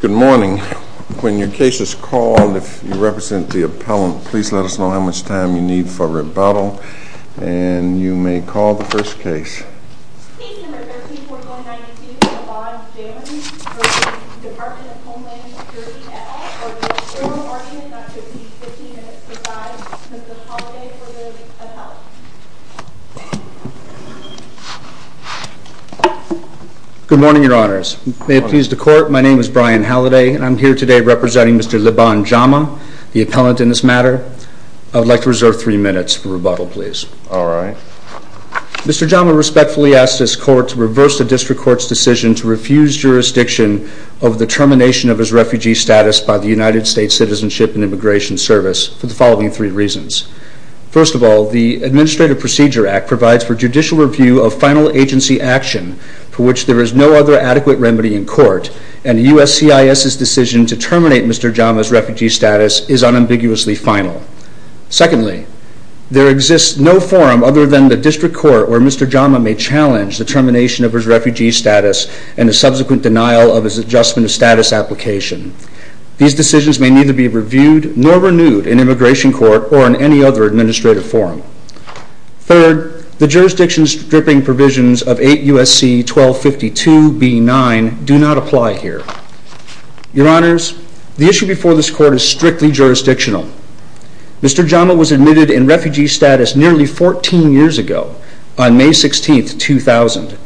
Good morning. When your case is called, if you represent the appellant, please let us know how much time you need for rebuttal, and you may call the first case. Case No. 13-4192, Yvonne Jones v. Department of Homeland Security, et al. For the general argument, that should be 15 minutes to decide. Mr. Holliday for the appellant. Good morning, Your Honors. May it please the Court, my name is Brian Holliday, and I am here today representing Mr. Liban Jama, the appellant in this matter. I would like to reserve three minutes for rebuttal, please. Mr. Jama respectfully asks this Court to reverse the District Court's decision to refuse jurisdiction over the termination of his refugee status by the United States Citizenship and Immigration Service for the following three reasons. First of all, the Administrative Procedure Act provides for judicial review of final agency action for which there is no other adequate remedy in court, and the USCIS's decision to terminate Mr. Jama's refugee status is unambiguously final. Secondly, there exists no forum other than the District Court where Mr. Jama may challenge the termination of his refugee status and the subsequent denial of his Adjustment of Status application. These decisions may neither be reviewed nor renewed in Immigration Court or in any other administrative forum. Third, the jurisdiction stripping provisions of 8 U.S.C. 1252 B.9 do not apply here. Your Honors, the issue before this Court is strictly jurisdictional. Mr. Jama was admitted in refugee status nearly 14 years ago, on May 16, 2000.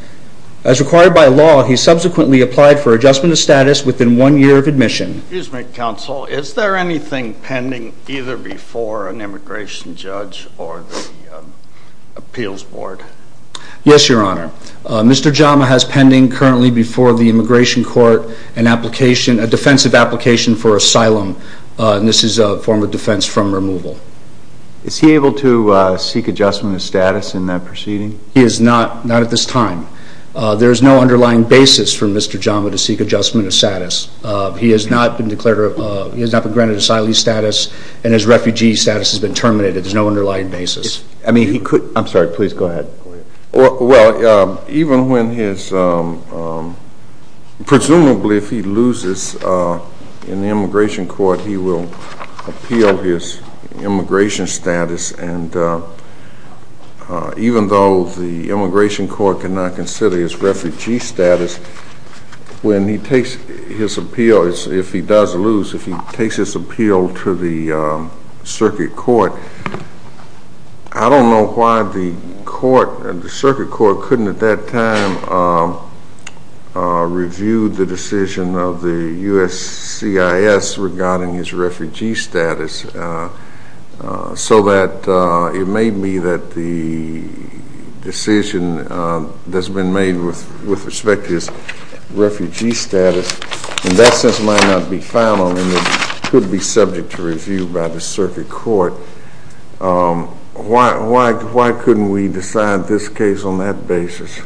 As required by law, he subsequently applied for Adjustment of Status within one year of admission. Excuse me, Counsel. Is there anything pending either before an Immigration Judge or the Appeals Board? Yes, Your Honor. Mr. Jama has pending currently before the Immigration Court a defensive application for asylum. This is a form of defense from removal. Is he able to seek Adjustment of Status in that proceeding? He is not at this time. There is no underlying basis for Mr. Jama to seek Adjustment of Status. He has not been granted asylee status and his refugee status has been terminated. There is no underlying basis. I'm sorry. Please go ahead. Well, even when his, presumably if he loses in the Immigration Court, he will appeal his immigration status. And even though the Immigration Court cannot consider his refugee status, when he takes his appeal, if he does lose, if he takes his appeal to the Circuit Court, I don't know why the Circuit Court couldn't at that time review the decision of the USCIS regarding his refugee status so that it may be that the decision that's been made with respect to his refugee status, in that sense, might not be final and it could be subject to review by the Circuit Court. Why couldn't we decide this case on that basis?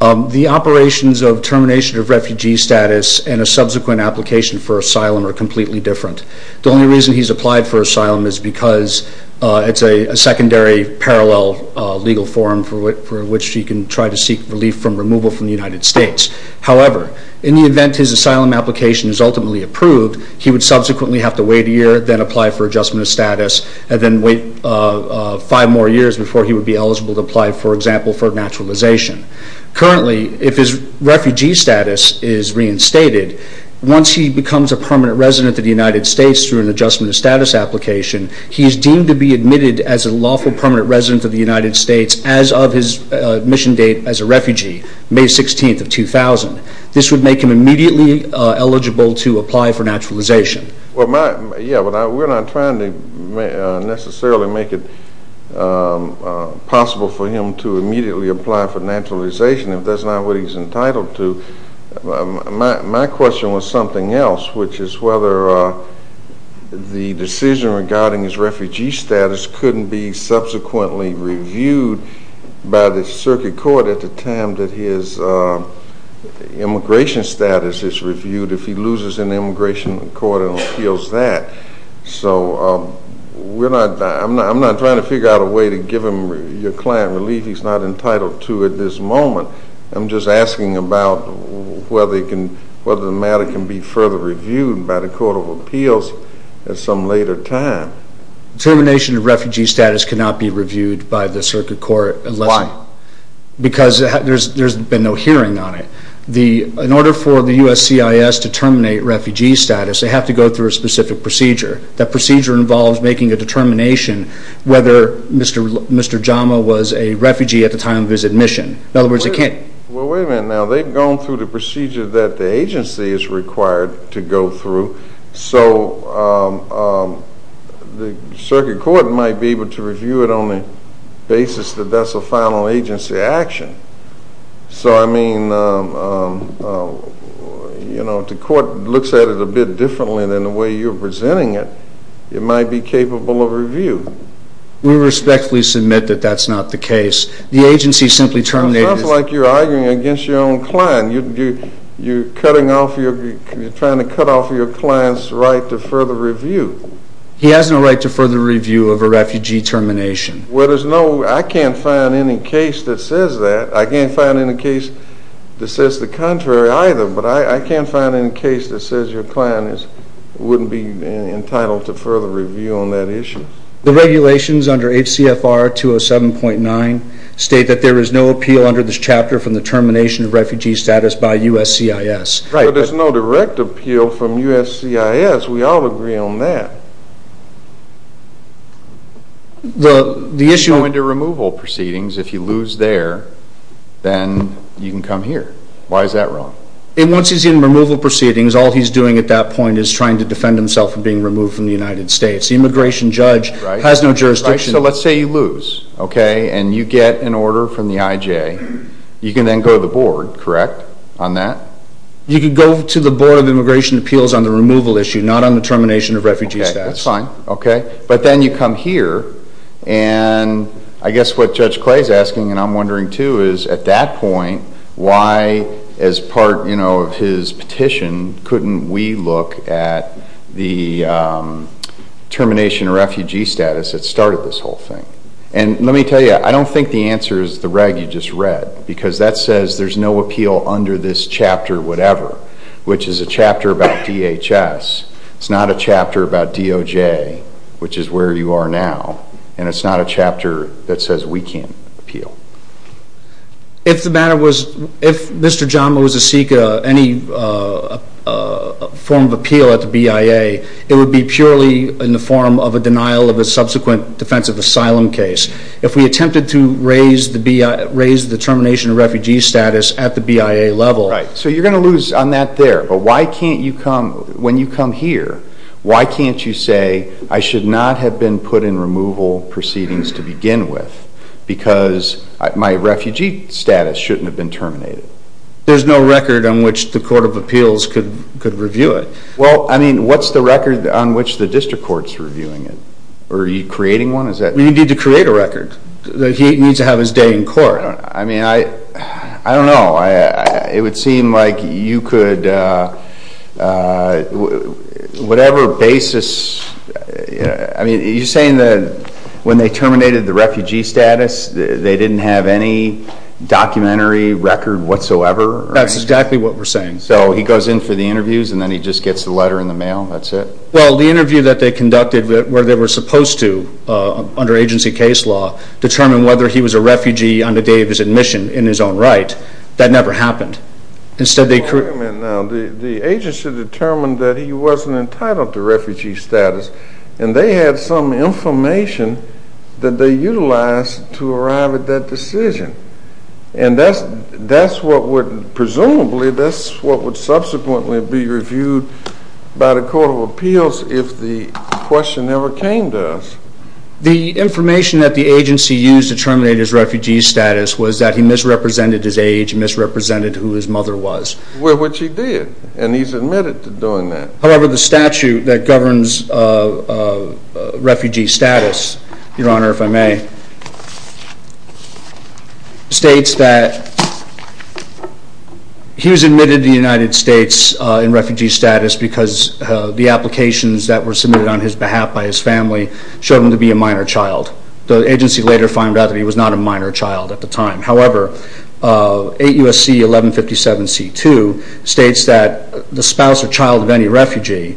The operations of termination of refugee status and a subsequent application for asylum are completely different. The only reason he's applied for asylum is because it's a secondary parallel legal form for which he can try to seek relief from removal from the United States. However, in the event his asylum application is ultimately approved, he would subsequently have to wait a year, then apply for adjustment of status, and then wait five more years before he would be eligible to apply, for example, for naturalization. Currently, if his refugee status is reinstated, once he becomes a permanent resident of the United States through an adjustment of status application, he is deemed to be admitted as a lawful permanent resident of the United States as of his admission date as a refugee, May 16th of 2000. This would make him immediately eligible to apply for naturalization. Yeah, but we're not trying to necessarily make it possible for him to immediately apply for naturalization if that's not what he's entitled to. My question was something else, which is whether the decision regarding his refugee status couldn't be subsequently reviewed by the circuit court at the time that his immigration status is reviewed if he loses in the immigration court and appeals that. So I'm not trying to figure out a way to give him your client relief he's not entitled to at this moment. I'm just asking about whether the matter can be further reviewed by the Court of Appeals at some later time. Termination of refugee status cannot be reviewed by the circuit court. Why? Because there's been no hearing on it. In order for the USCIS to terminate refugee status, they have to go through a specific procedure. That procedure involves making a determination whether Mr. Jama was a refugee at the time of his admission. In other words, they can't. Well, wait a minute now. They've gone through the procedure that the agency is required to go through, so the circuit court might be able to review it on the basis that that's a final agency action. So I mean, you know, if the court looks at it a bit differently than the way you're presenting it, it might be capable of review. We respectfully submit that that's not the case. The agency simply terminated it. It sounds like you're arguing against your own client. You're trying to cut off your client's right to further review. He has no right to further review of a refugee termination. Well, I can't find any case that says that. I can't find any case that says the contrary either, but I can't find any case that says your client wouldn't be entitled to further review on that issue. The regulations under HCFR 207.9 state that there is no appeal under this chapter from the termination of refugee status by USCIS. Right, but there's no direct appeal from USCIS. We all agree on that. The issue of removal proceedings, if you lose there, then you can come here. Why is that wrong? Once he's in removal proceedings, all he's doing at that point is trying to defend himself from being removed from the United States. The immigration judge has no jurisdiction. Right, so let's say you lose, okay, and you get an order from the IJ. You can then go to the board, correct, on that? You can go to the Board of Immigration Appeals on the removal issue, not on the termination of refugee status. Okay, that's fine. Okay, but then you come here, and I guess what Judge Clay is asking, and I'm wondering too, is at that point why, as part, you know, of his petition, couldn't we look at the termination of refugee status that started this whole thing? And let me tell you, I don't think the answer is the reg you just read because that says there's no appeal under this chapter whatever, which is a chapter about DHS. It's not a chapter about DOJ, which is where you are now, and it's not a chapter that says we can't appeal. If the matter was, if Mr. John Moses seek any form of appeal at the BIA, it would be purely in the form of a denial of a subsequent defensive asylum case. If we attempted to raise the termination of refugee status at the BIA level. Right, so you're going to lose on that there, but why can't you come, when you come here, why can't you say I should not have been put in removal proceedings to begin with because my refugee status shouldn't have been terminated? There's no record on which the court of appeals could review it. Well, I mean, what's the record on which the district court's reviewing it? Are you creating one? We need to create a record. He needs to have his day in court. I mean, I don't know. It would seem like you could, whatever basis. I mean, are you saying that when they terminated the refugee status, they didn't have any documentary record whatsoever? That's exactly what we're saying. So he goes in for the interviews and then he just gets the letter in the mail, that's it? Well, the interview that they conducted where they were supposed to, under agency case law, determine whether he was a refugee on the day of his admission in his own right, that never happened. Wait a minute now. The agency determined that he wasn't entitled to refugee status, and they had some information that they utilized to arrive at that decision, and that's what would presumably, that's what would subsequently be reviewed by the court of appeals if the question ever came to us. The information that the agency used to terminate his refugee status was that he misrepresented his age, misrepresented who his mother was. Which he did, and he's admitted to doing that. However, the statute that governs refugee status, Your Honor, if I may, states that he was admitted to the United States in refugee status because the applications that were submitted on his behalf by his family showed him to be a minor child. The agency later found out that he was not a minor child at the time. However, 8 U.S.C. 1157 C.2 states that the spouse or child of any refugee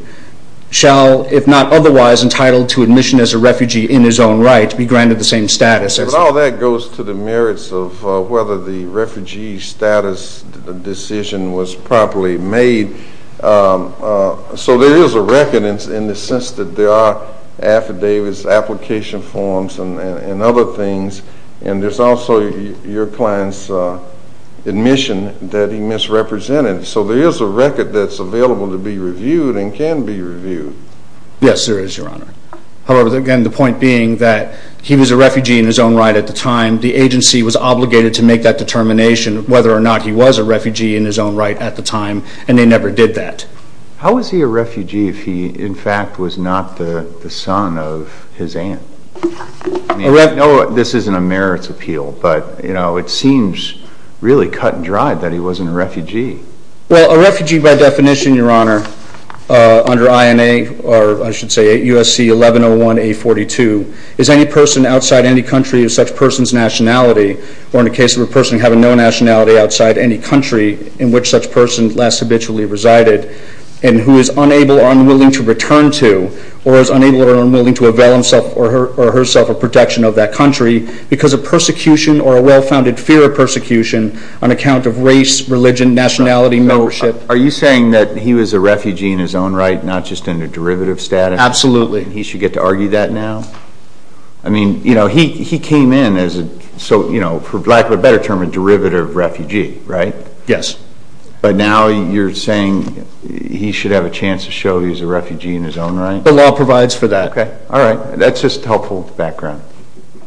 shall, if not otherwise entitled to admission as a refugee in his own right, be granted the same status. But all that goes to the merits of whether the refugee status decision was properly made. So there is a record in the sense that there are affidavits, application forms, and other things, and there's also your client's admission that he misrepresented. So there is a record that's available to be reviewed and can be reviewed. Yes, there is, Your Honor. However, again, the point being that he was a refugee in his own right at the time. The agency was obligated to make that determination whether or not he was a refugee in his own right at the time, and they never did that. How was he a refugee if he, in fact, was not the son of his aunt? I know this isn't a merits appeal, but it seems really cut and dried that he wasn't a refugee. Well, a refugee by definition, Your Honor, under INA, or I should say USC 1101A42, is any person outside any country of such person's nationality, or in the case of a person having no nationality outside any country in which such person last habitually resided, and who is unable or unwilling to return to, or is unable or unwilling to avail himself or herself of protection of that country because of persecution or a well-founded fear of persecution on account of race, religion, nationality, membership. Are you saying that he was a refugee in his own right, not just in a derivative status? Absolutely. He should get to argue that now? I mean, you know, he came in as a, for lack of a better term, a derivative refugee, right? Yes. But now you're saying he should have a chance to show he was a refugee in his own right? The law provides for that. Okay. All right. That's just helpful background.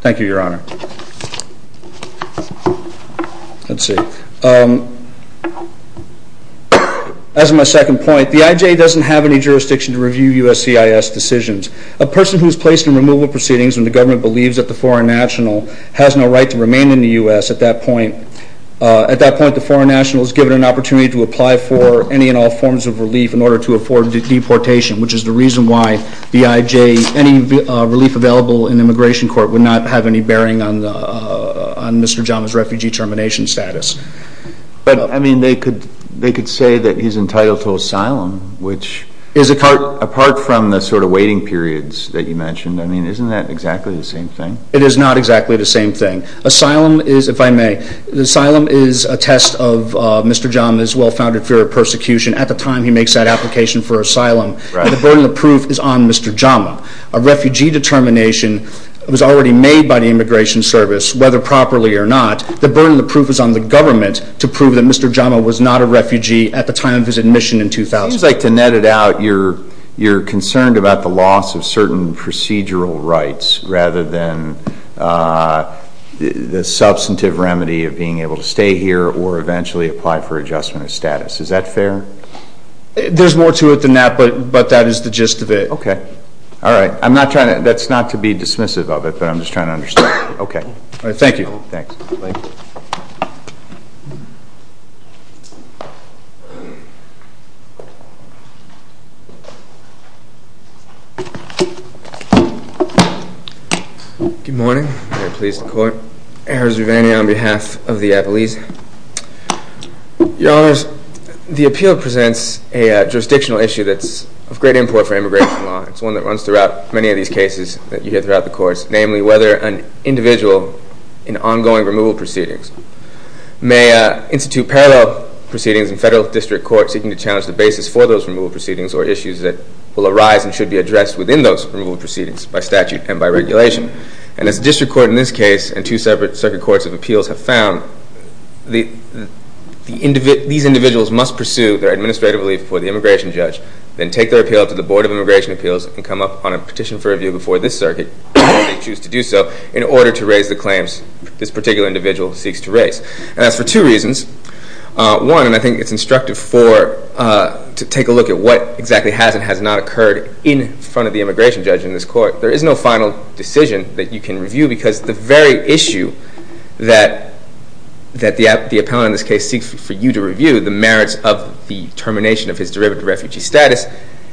Thank you, Your Honor. Let's see. As my second point, the IJ doesn't have any jurisdiction to review USCIS decisions. A person who is placed in removal proceedings when the government believes that the foreign national has no right to remain in the U.S. at that point, at that point the foreign national is given an opportunity to apply for any and all forms of relief in order to afford deportation, which is the reason why the IJ, any relief available in immigration court would not have any bearing on Mr. Jama's refugee termination status. But, I mean, they could say that he's entitled to asylum, which, apart from the sort of waiting periods that you mentioned, I mean, isn't that exactly the same thing? It is not exactly the same thing. Asylum is, if I may, the asylum is a test of Mr. Jama's well-founded fear of persecution. At the time he makes that application for asylum, the burden of proof is on Mr. Jama. A refugee determination was already made by the Immigration Service, whether properly or not. The burden of proof is on the government to prove that Mr. Jama was not a refugee at the time of his admission in 2000. It seems like, to net it out, you're concerned about the loss of certain procedural rights rather than the substantive remedy of being able to stay here or eventually apply for adjustment of status. Is that fair? There's more to it than that, but that is the gist of it. Okay. All right. That's not to be dismissive of it, but I'm just trying to understand. Okay. All right. Thank you. Thanks. Good morning. I'm very pleased to court. Errors of any on behalf of the appellees. Your Honors, the appeal presents a jurisdictional issue that's of great import for immigration law. It's one that runs throughout many of these cases that you hear throughout the course, namely whether an individual in ongoing removal proceedings may institute parallel proceedings in federal district courts seeking to challenge the basis for those removal proceedings or issues that will arise and should be addressed within those removal proceedings by statute and by regulation. And as district court in this case and two separate circuit courts of appeals have found, these individuals must pursue their administrative leave before the immigration judge, then take their appeal to the Board of Immigration Appeals and come up on a petition for review before this circuit if they choose to do so in order to raise the claims this particular individual seeks to raise. And that's for two reasons. One, and I think it's instructive to take a look at what exactly has and has not occurred in front of the immigration judge in this court. There is no final decision that you can review because the very issue that the appellant in this case seeks for you to review, the merits of the termination of his derivative refugee status,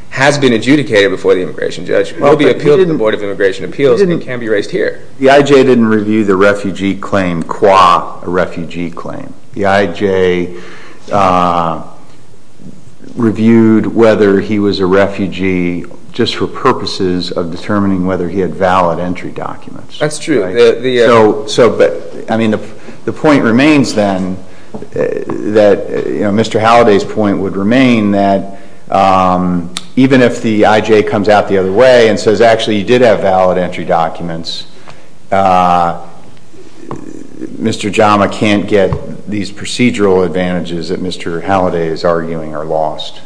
has been adjudicated before the immigration judge. It will be appealed to the Board of Immigration Appeals and can be raised here. The IJ didn't review the refugee claim qua a refugee claim. The IJ reviewed whether he was a refugee just for purposes of determining whether he had valid entry documents. That's true. So, but, I mean, the point remains then that, you know, Mr. Halliday's point would remain that even if the IJ comes out the other way and says, actually, you did have valid entry documents, Mr. Jama can't get these procedural advantages that Mr. Halliday is arguing are lost,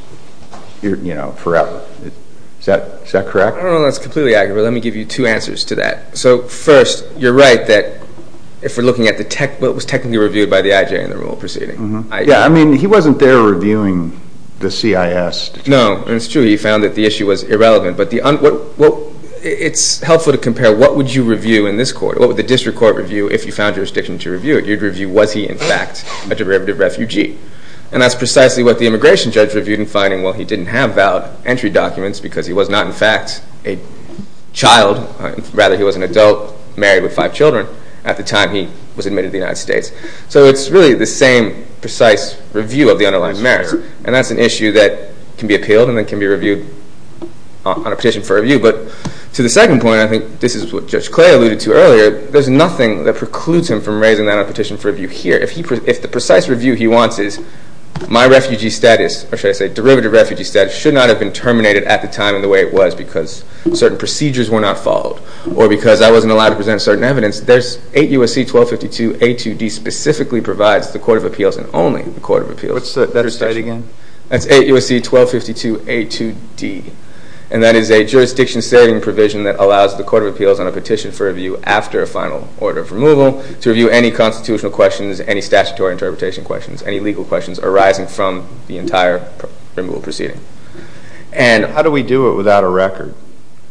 you know, forever. Is that correct? I don't know if that's completely accurate, but let me give you two answers to that. So, first, you're right that if we're looking at what was technically reviewed by the IJ in the rule proceeding. Yeah, I mean, he wasn't there reviewing the CIS. No, it's true. He found that the issue was irrelevant, but it's helpful to compare what would you review in this court? What would the district court review if you found jurisdiction to review it? You'd review was he, in fact, a derivative refugee? And that's precisely what the immigration judge reviewed in finding, well, he didn't have valid entry documents because he was not, in fact, a child. Rather, he was an adult married with five children at the time he was admitted to the United States. So, it's really the same precise review of the underlying merits. And that's an issue that can be appealed and that can be reviewed on a petition for review. But to the second point, I think this is what Judge Clay alluded to earlier. There's nothing that precludes him from raising that on a petition for review here. If the precise review he wants is my refugee status, or should I say derivative refugee status, should not have been terminated at the time in the way it was because certain procedures were not followed or because I wasn't allowed to present certain evidence, there's 8 U.S.C. 1252 A2D specifically provides the court of appeals and only the court of appeals. What's that state again? That's 8 U.S.C. 1252 A2D. And that is a jurisdiction saving provision that allows the court of appeals on a petition for review after a final order of removal to review any constitutional questions, any statutory interpretation questions, any legal questions arising from the entire removal proceeding. And how do we do it without a record?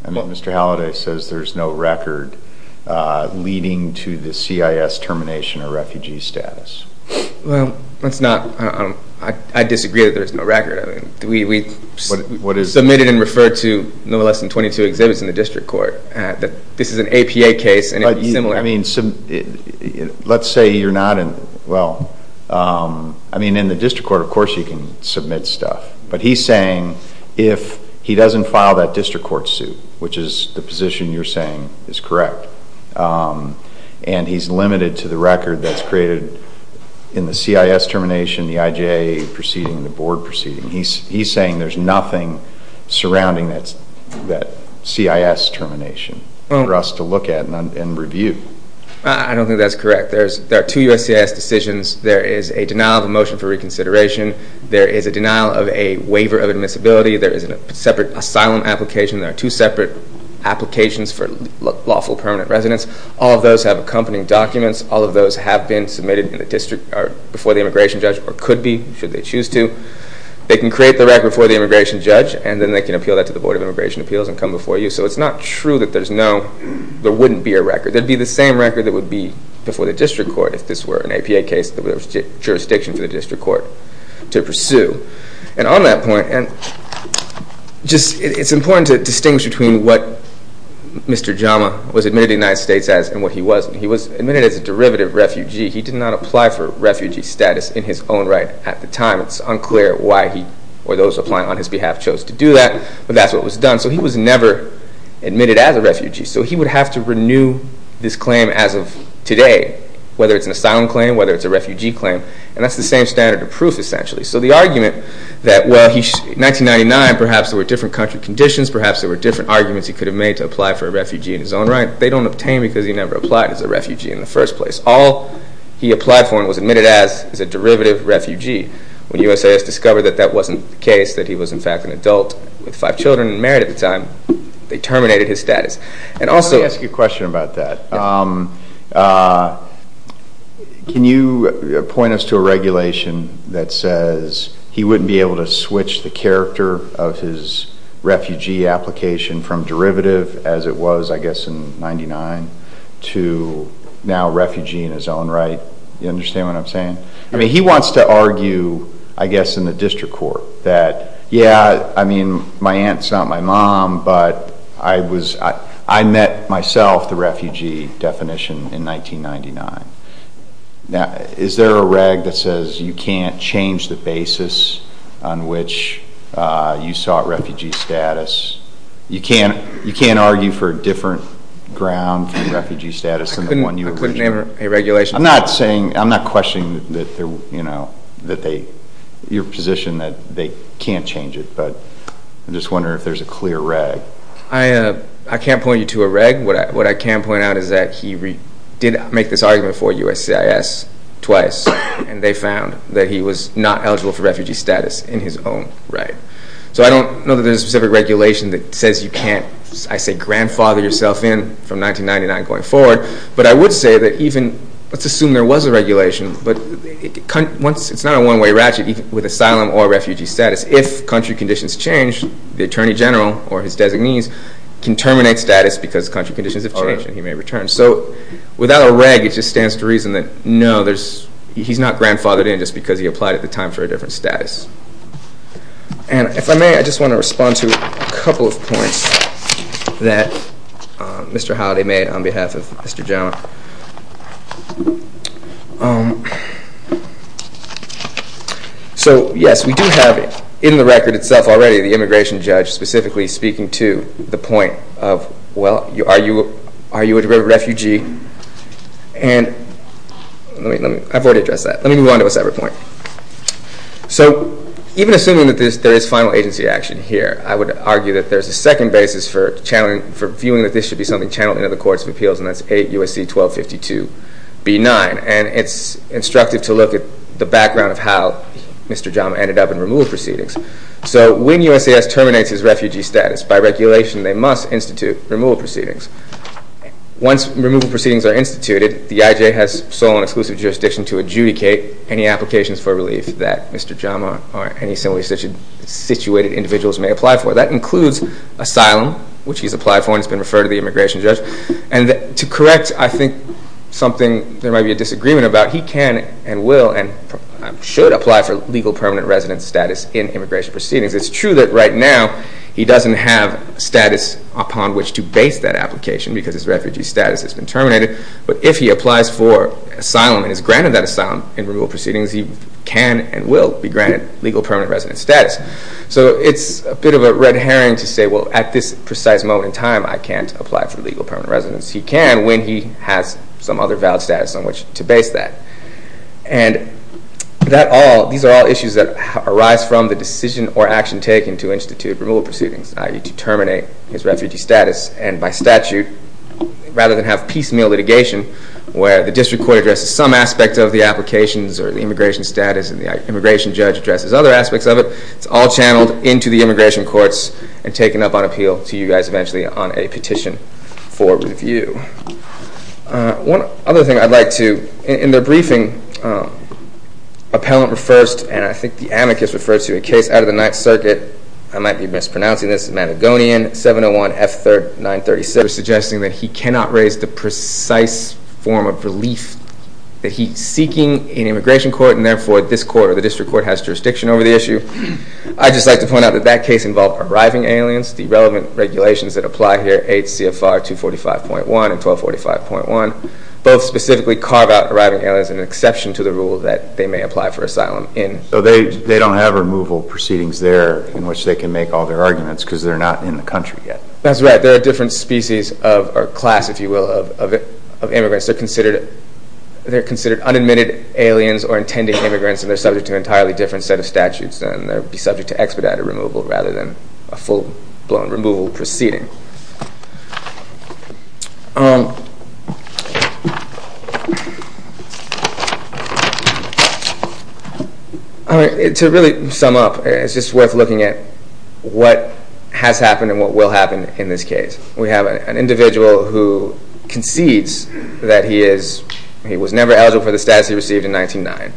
I mean, Mr. Halliday says there's no record leading to the CIS termination or refugee status. Well, that's not, I disagree that there's no record. I mean, we submitted and referred to no less than 22 exhibits in the district court. This is an APA case and it's similar. Let's say you're not in, well, I mean, in the district court, of course you can submit stuff. But he's saying if he doesn't file that district court suit, which is the position you're saying is correct, and he's limited to the record that's created in the CIS termination, the IJA proceeding, the board proceeding. He's saying there's nothing surrounding that CIS termination for us to look at and review. I don't think that's correct. There are two U.S.C.S. decisions. There is a denial of a motion for reconsideration. There is a denial of a waiver of admissibility. There is a separate asylum application. There are two separate applications for lawful permanent residence. All of those have accompanying documents. All of those have been submitted before the immigration judge or could be, should they choose to. They can create the record before the immigration judge, and then they can appeal that to the Board of Immigration Appeals and come before you. So it's not true that there's no, there wouldn't be a record. There would be the same record that would be before the district court if this were an APA case that there was jurisdiction for the district court to pursue. And on that point, it's important to distinguish between what Mr. Jama was admitted to the United States as and what he was. He was admitted as a derivative refugee. He did not apply for refugee status in his own right at the time. It's unclear why he or those applying on his behalf chose to do that, but that's what was done. So he was never admitted as a refugee. So he would have to renew this claim as of today, whether it's an asylum claim, whether it's a refugee claim. And that's the same standard of proof, essentially. So the argument that, well, in 1999, perhaps there were different country conditions, perhaps there were different arguments he could have made to apply for a refugee in his own right, they don't obtain because he never applied as a refugee in the first place. All he applied for and was admitted as is a derivative refugee. When USAS discovered that that wasn't the case, that he was, in fact, an adult with five children and married at the time, they terminated his status. Let me ask you a question about that. Can you point us to a regulation that says he wouldn't be able to switch the character of his refugee application from derivative, as it was, I guess, in 1999, to now refugee in his own right? Do you understand what I'm saying? I mean, he wants to argue, I guess, in the district court that, yeah, I mean, my aunt's not my mom, but I met myself the refugee definition in 1999. Now, is there a reg that says you can't change the basis on which you sought refugee status? You can't argue for a different ground for refugee status than the one you originally sought? I couldn't name a regulation. I'm not questioning your position that they can't change it, but I'm just wondering if there's a clear reg. I can't point you to a reg. What I can point out is that he did make this argument for USCIS twice, and they found that he was not eligible for refugee status in his own right. So I don't know that there's a specific regulation that says you can't, I say, grandfather yourself in from 1999 going forward, but I would say that even, let's assume there was a regulation, but it's not a one-way ratchet with asylum or refugee status. If country conditions change, the attorney general or his designees can terminate status because country conditions have changed and he may return. So without a reg, it just stands to reason that, no, he's not grandfathered in just because he applied at the time for a different status. And if I may, I just want to respond to a couple of points that Mr. Howdy made on behalf of Mr. Jones. So, yes, we do have in the record itself already the immigration judge specifically speaking to the point of, well, are you a refugee? And I've already addressed that. Let me move on to a separate point. So even assuming that there is final agency action here, I would argue that there's a second basis for channeling, for viewing that this should be something channeled into the Courts of Appeals, and that's 8 U.S.C. 1252 B.9. And it's instructive to look at the background of how Mr. Jama ended up in removal proceedings. So when USAS terminates his refugee status, by regulation they must institute removal proceedings. Once removal proceedings are instituted, the IJ has sole and exclusive jurisdiction to adjudicate any applications for relief that Mr. Jama or any similarly situated individuals may apply for. That includes asylum, which he's applied for and has been referred to the immigration judge. And to correct, I think, something there might be a disagreement about, he can and will and should apply for legal permanent residence status in immigration proceedings. It's true that right now he doesn't have status upon which to base that application because his refugee status has been terminated. But if he applies for asylum and is granted that asylum in removal proceedings, he can and will be granted legal permanent residence status. So it's a bit of a red herring to say, well, at this precise moment in time, I can't apply for legal permanent residence. He can when he has some other valid status on which to base that. And these are all issues that arise from the decision or action taken to institute removal proceedings, i.e. to terminate his refugee status. And by statute, rather than have piecemeal litigation where the district court addresses some aspect of the applications or the immigration status and the immigration judge addresses other aspects of it, it's all channeled into the immigration courts and taken up on appeal to you guys eventually on a petition for review. One other thing I'd like to, in their briefing, appellant refers to, and I think the amicus refers to, a case out of the Ninth Circuit, I might be mispronouncing this, the Madagonian 701F936, suggesting that he cannot raise the precise form of relief that he's seeking in immigration court and therefore this court or the district court has jurisdiction over the issue. I'd just like to point out that that case involved arriving aliens. The relevant regulations that apply here, 8 CFR 245.1 and 1245.1, both specifically carve out arriving aliens as an exception to the rule that they may apply for asylum in. So they don't have removal proceedings there in which they can make all their arguments because they're not in the country yet? That's right. They're a different species or class, if you will, of immigrants. They're considered unadmitted aliens or intended immigrants and they're subject to an entirely different set of statutes and they would be subject to expedited removal rather than a full-blown removal proceeding. To really sum up, it's just worth looking at what has happened and what will happen in this case. We have an individual who concedes that he was never eligible for the status he received in 1909.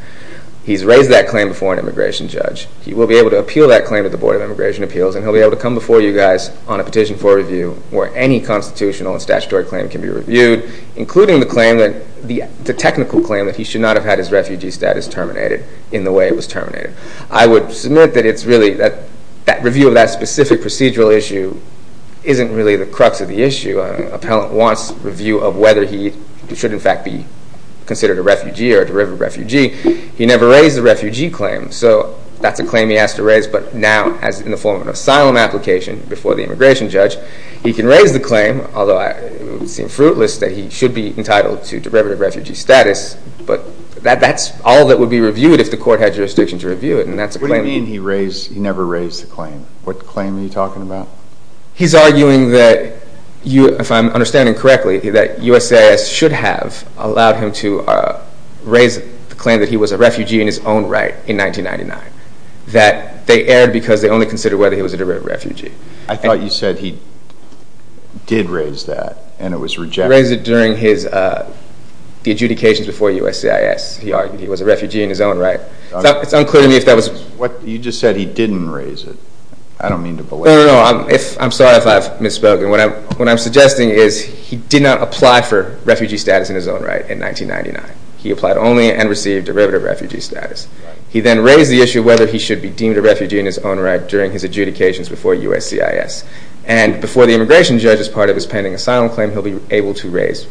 He's raised that claim before an immigration judge. He will be able to appeal that claim at the Board of Immigration Appeals and he'll be able to come before you guys on a petition for review where any constitutional and statutory claim can be reviewed, including the technical claim that he should not have had his refugee status terminated in the way it was terminated. I would submit that review of that specific procedural issue isn't really the crux of the issue. An appellant wants review of whether he should in fact be considered a refugee or a derivative refugee. He never raised the refugee claim, so that's a claim he has to raise, but now as in the form of an asylum application before the immigration judge, he can raise the claim, although it would seem fruitless that he should be entitled to derivative refugee status, but that's all that would be reviewed if the court had jurisdiction to review it. What do you mean he never raised the claim? What claim are you talking about? He's arguing that, if I'm understanding correctly, that USCIS should have allowed him to raise the claim that he was a refugee in his own right in 1999, that they erred because they only considered whether he was a derivative refugee. I thought you said he did raise that and it was rejected. He raised it during the adjudications before USCIS. He argued he was a refugee in his own right. It's unclear to me if that was... You just said he didn't raise it. I don't mean to belabor... No, no, no. I'm sorry if I've misspoken. What I'm suggesting is he did not apply for refugee status in his own right in 1999. He applied only and received derivative refugee status. He then raised the issue of whether he should be deemed a refugee in his own right during his adjudications before USCIS, and before the immigration judge's part of his pending asylum claim, he'll be able to raise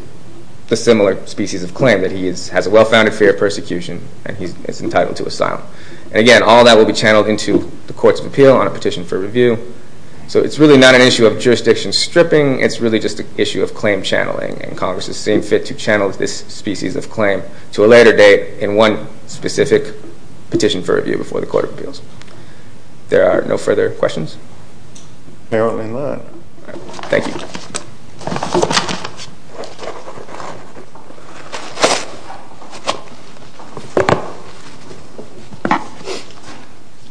the similar species of claim, that he has a well-founded fear of persecution and he's entitled to asylum. And again, all that will be channeled into the courts of appeal on a petition for review. So it's really not an issue of jurisdiction stripping. It's really just an issue of claim channeling, and Congress is seeing fit to channel this species of claim to a later date in one specific petition for review before the court of appeals. There are no further questions. Apparently not. Thank you.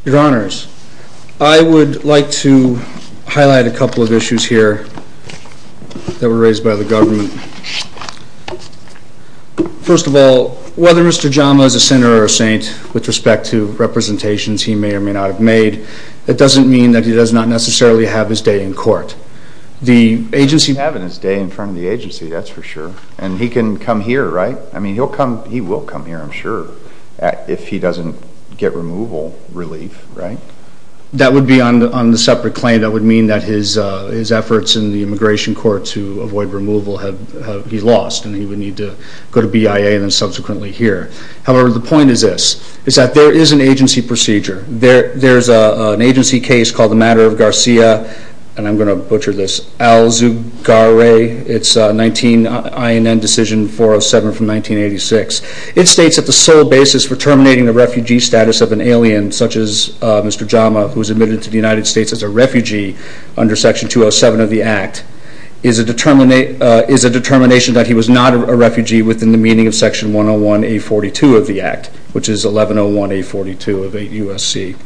Your Honors, I would like to highlight a couple of issues here that were raised by the government. First of all, whether Mr. Jama is a sinner or a saint, with respect to representations he may or may not have made, that doesn't mean that he does not necessarily have his day in court. He's having his day in front of the agency, that's for sure. And he can come here, right? I mean, he will come here, I'm sure, if he doesn't get removal relief, right? That would be on the separate claim. That would mean that his efforts in the immigration court to avoid removal, he lost and he would need to go to BIA and then subsequently here. However, the point is this. There is an agency procedure. There's an agency case called the Matter of Garcia, and I'm going to butcher this, Al-Zugaray. It's an INN decision 407 from 1986. It states that the sole basis for terminating the refugee status of an alien, such as Mr. Jama, who was admitted to the United States as a refugee under Section 207 of the Act, is a determination that he was not a refugee within the meaning of Section 101A42 of the Act, which is 1101A42 of USC.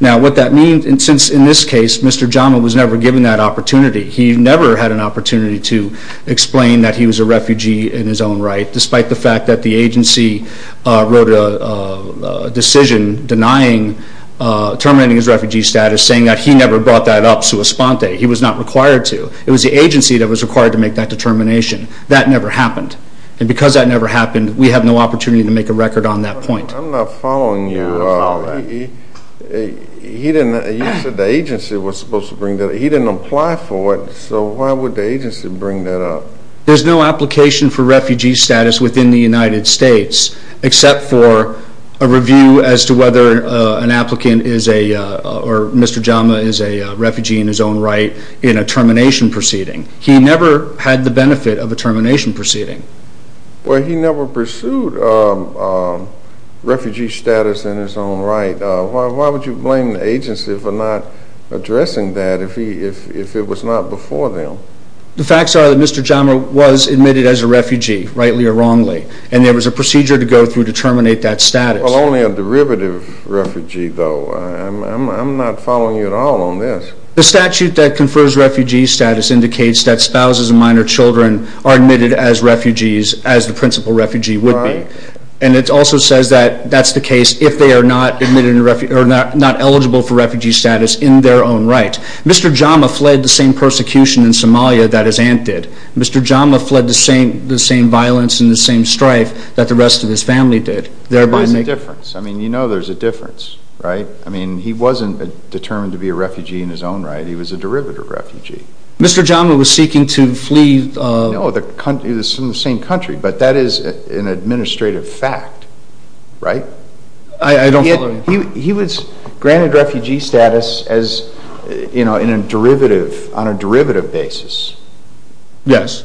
Now, what that means, since in this case Mr. Jama was never given that opportunity, he never had an opportunity to explain that he was a refugee in his own right, despite the fact that the agency wrote a decision terminating his refugee status saying that he never brought that up, sua sponte, he was not required to. It was the agency that was required to make that determination. That never happened. And because that never happened, we have no opportunity to make a record on that point. I'm not following you. You said the agency was supposed to bring that up. He didn't apply for it, so why would the agency bring that up? There's no application for refugee status within the United States, except for a review as to whether an applicant is a, or Mr. Jama is a refugee in his own right in a termination proceeding. He never had the benefit of a termination proceeding. Well, he never pursued refugee status in his own right. Why would you blame the agency for not addressing that if it was not before them? The facts are that Mr. Jama was admitted as a refugee, rightly or wrongly, and there was a procedure to go through to terminate that status. Well, only a derivative refugee, though. I'm not following you at all on this. The statute that confers refugee status indicates that spouses of minor children are admitted as refugees, as the principal refugee would be. And it also says that that's the case if they are not eligible for refugee status in their own right. Mr. Jama fled the same persecution in Somalia that his aunt did. Mr. Jama fled the same violence and the same strife that the rest of his family did. There is a difference. I mean, you know there's a difference, right? I mean, he wasn't determined to be a refugee in his own right. He was a derivative refugee. Mr. Jama was seeking to flee. No, he was from the same country, but that is an administrative fact, right? I don't follow you. He was granted refugee status as, you know, in a derivative, on a derivative basis. Yes.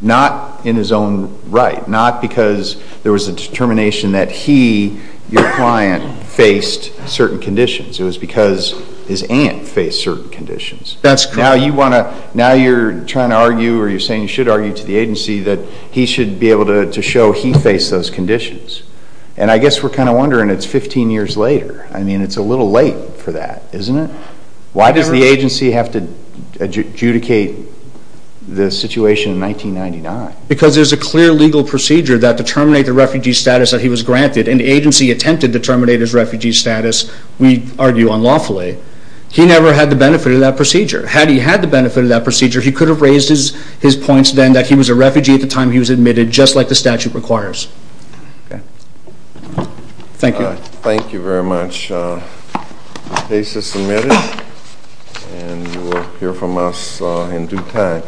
Not in his own right. Not because there was a determination that he, your client, faced certain conditions. It was because his aunt faced certain conditions. That's correct. Now you want to, now you're trying to argue or you're saying you should argue to the agency that he should be able to show he faced those conditions. And I guess we're kind of wondering, it's 15 years later. I mean, it's a little late for that, isn't it? Why does the agency have to adjudicate the situation in 1999? Because there's a clear legal procedure that to terminate the refugee status that he was granted and the agency attempted to terminate his refugee status, we argue, unlawfully. He never had the benefit of that procedure. Had he had the benefit of that procedure, he could have raised his points then that he was a refugee at the time he was admitted, just like the statute requires. Thank you. Thank you very much. The case is submitted. And you will hear from us in due time.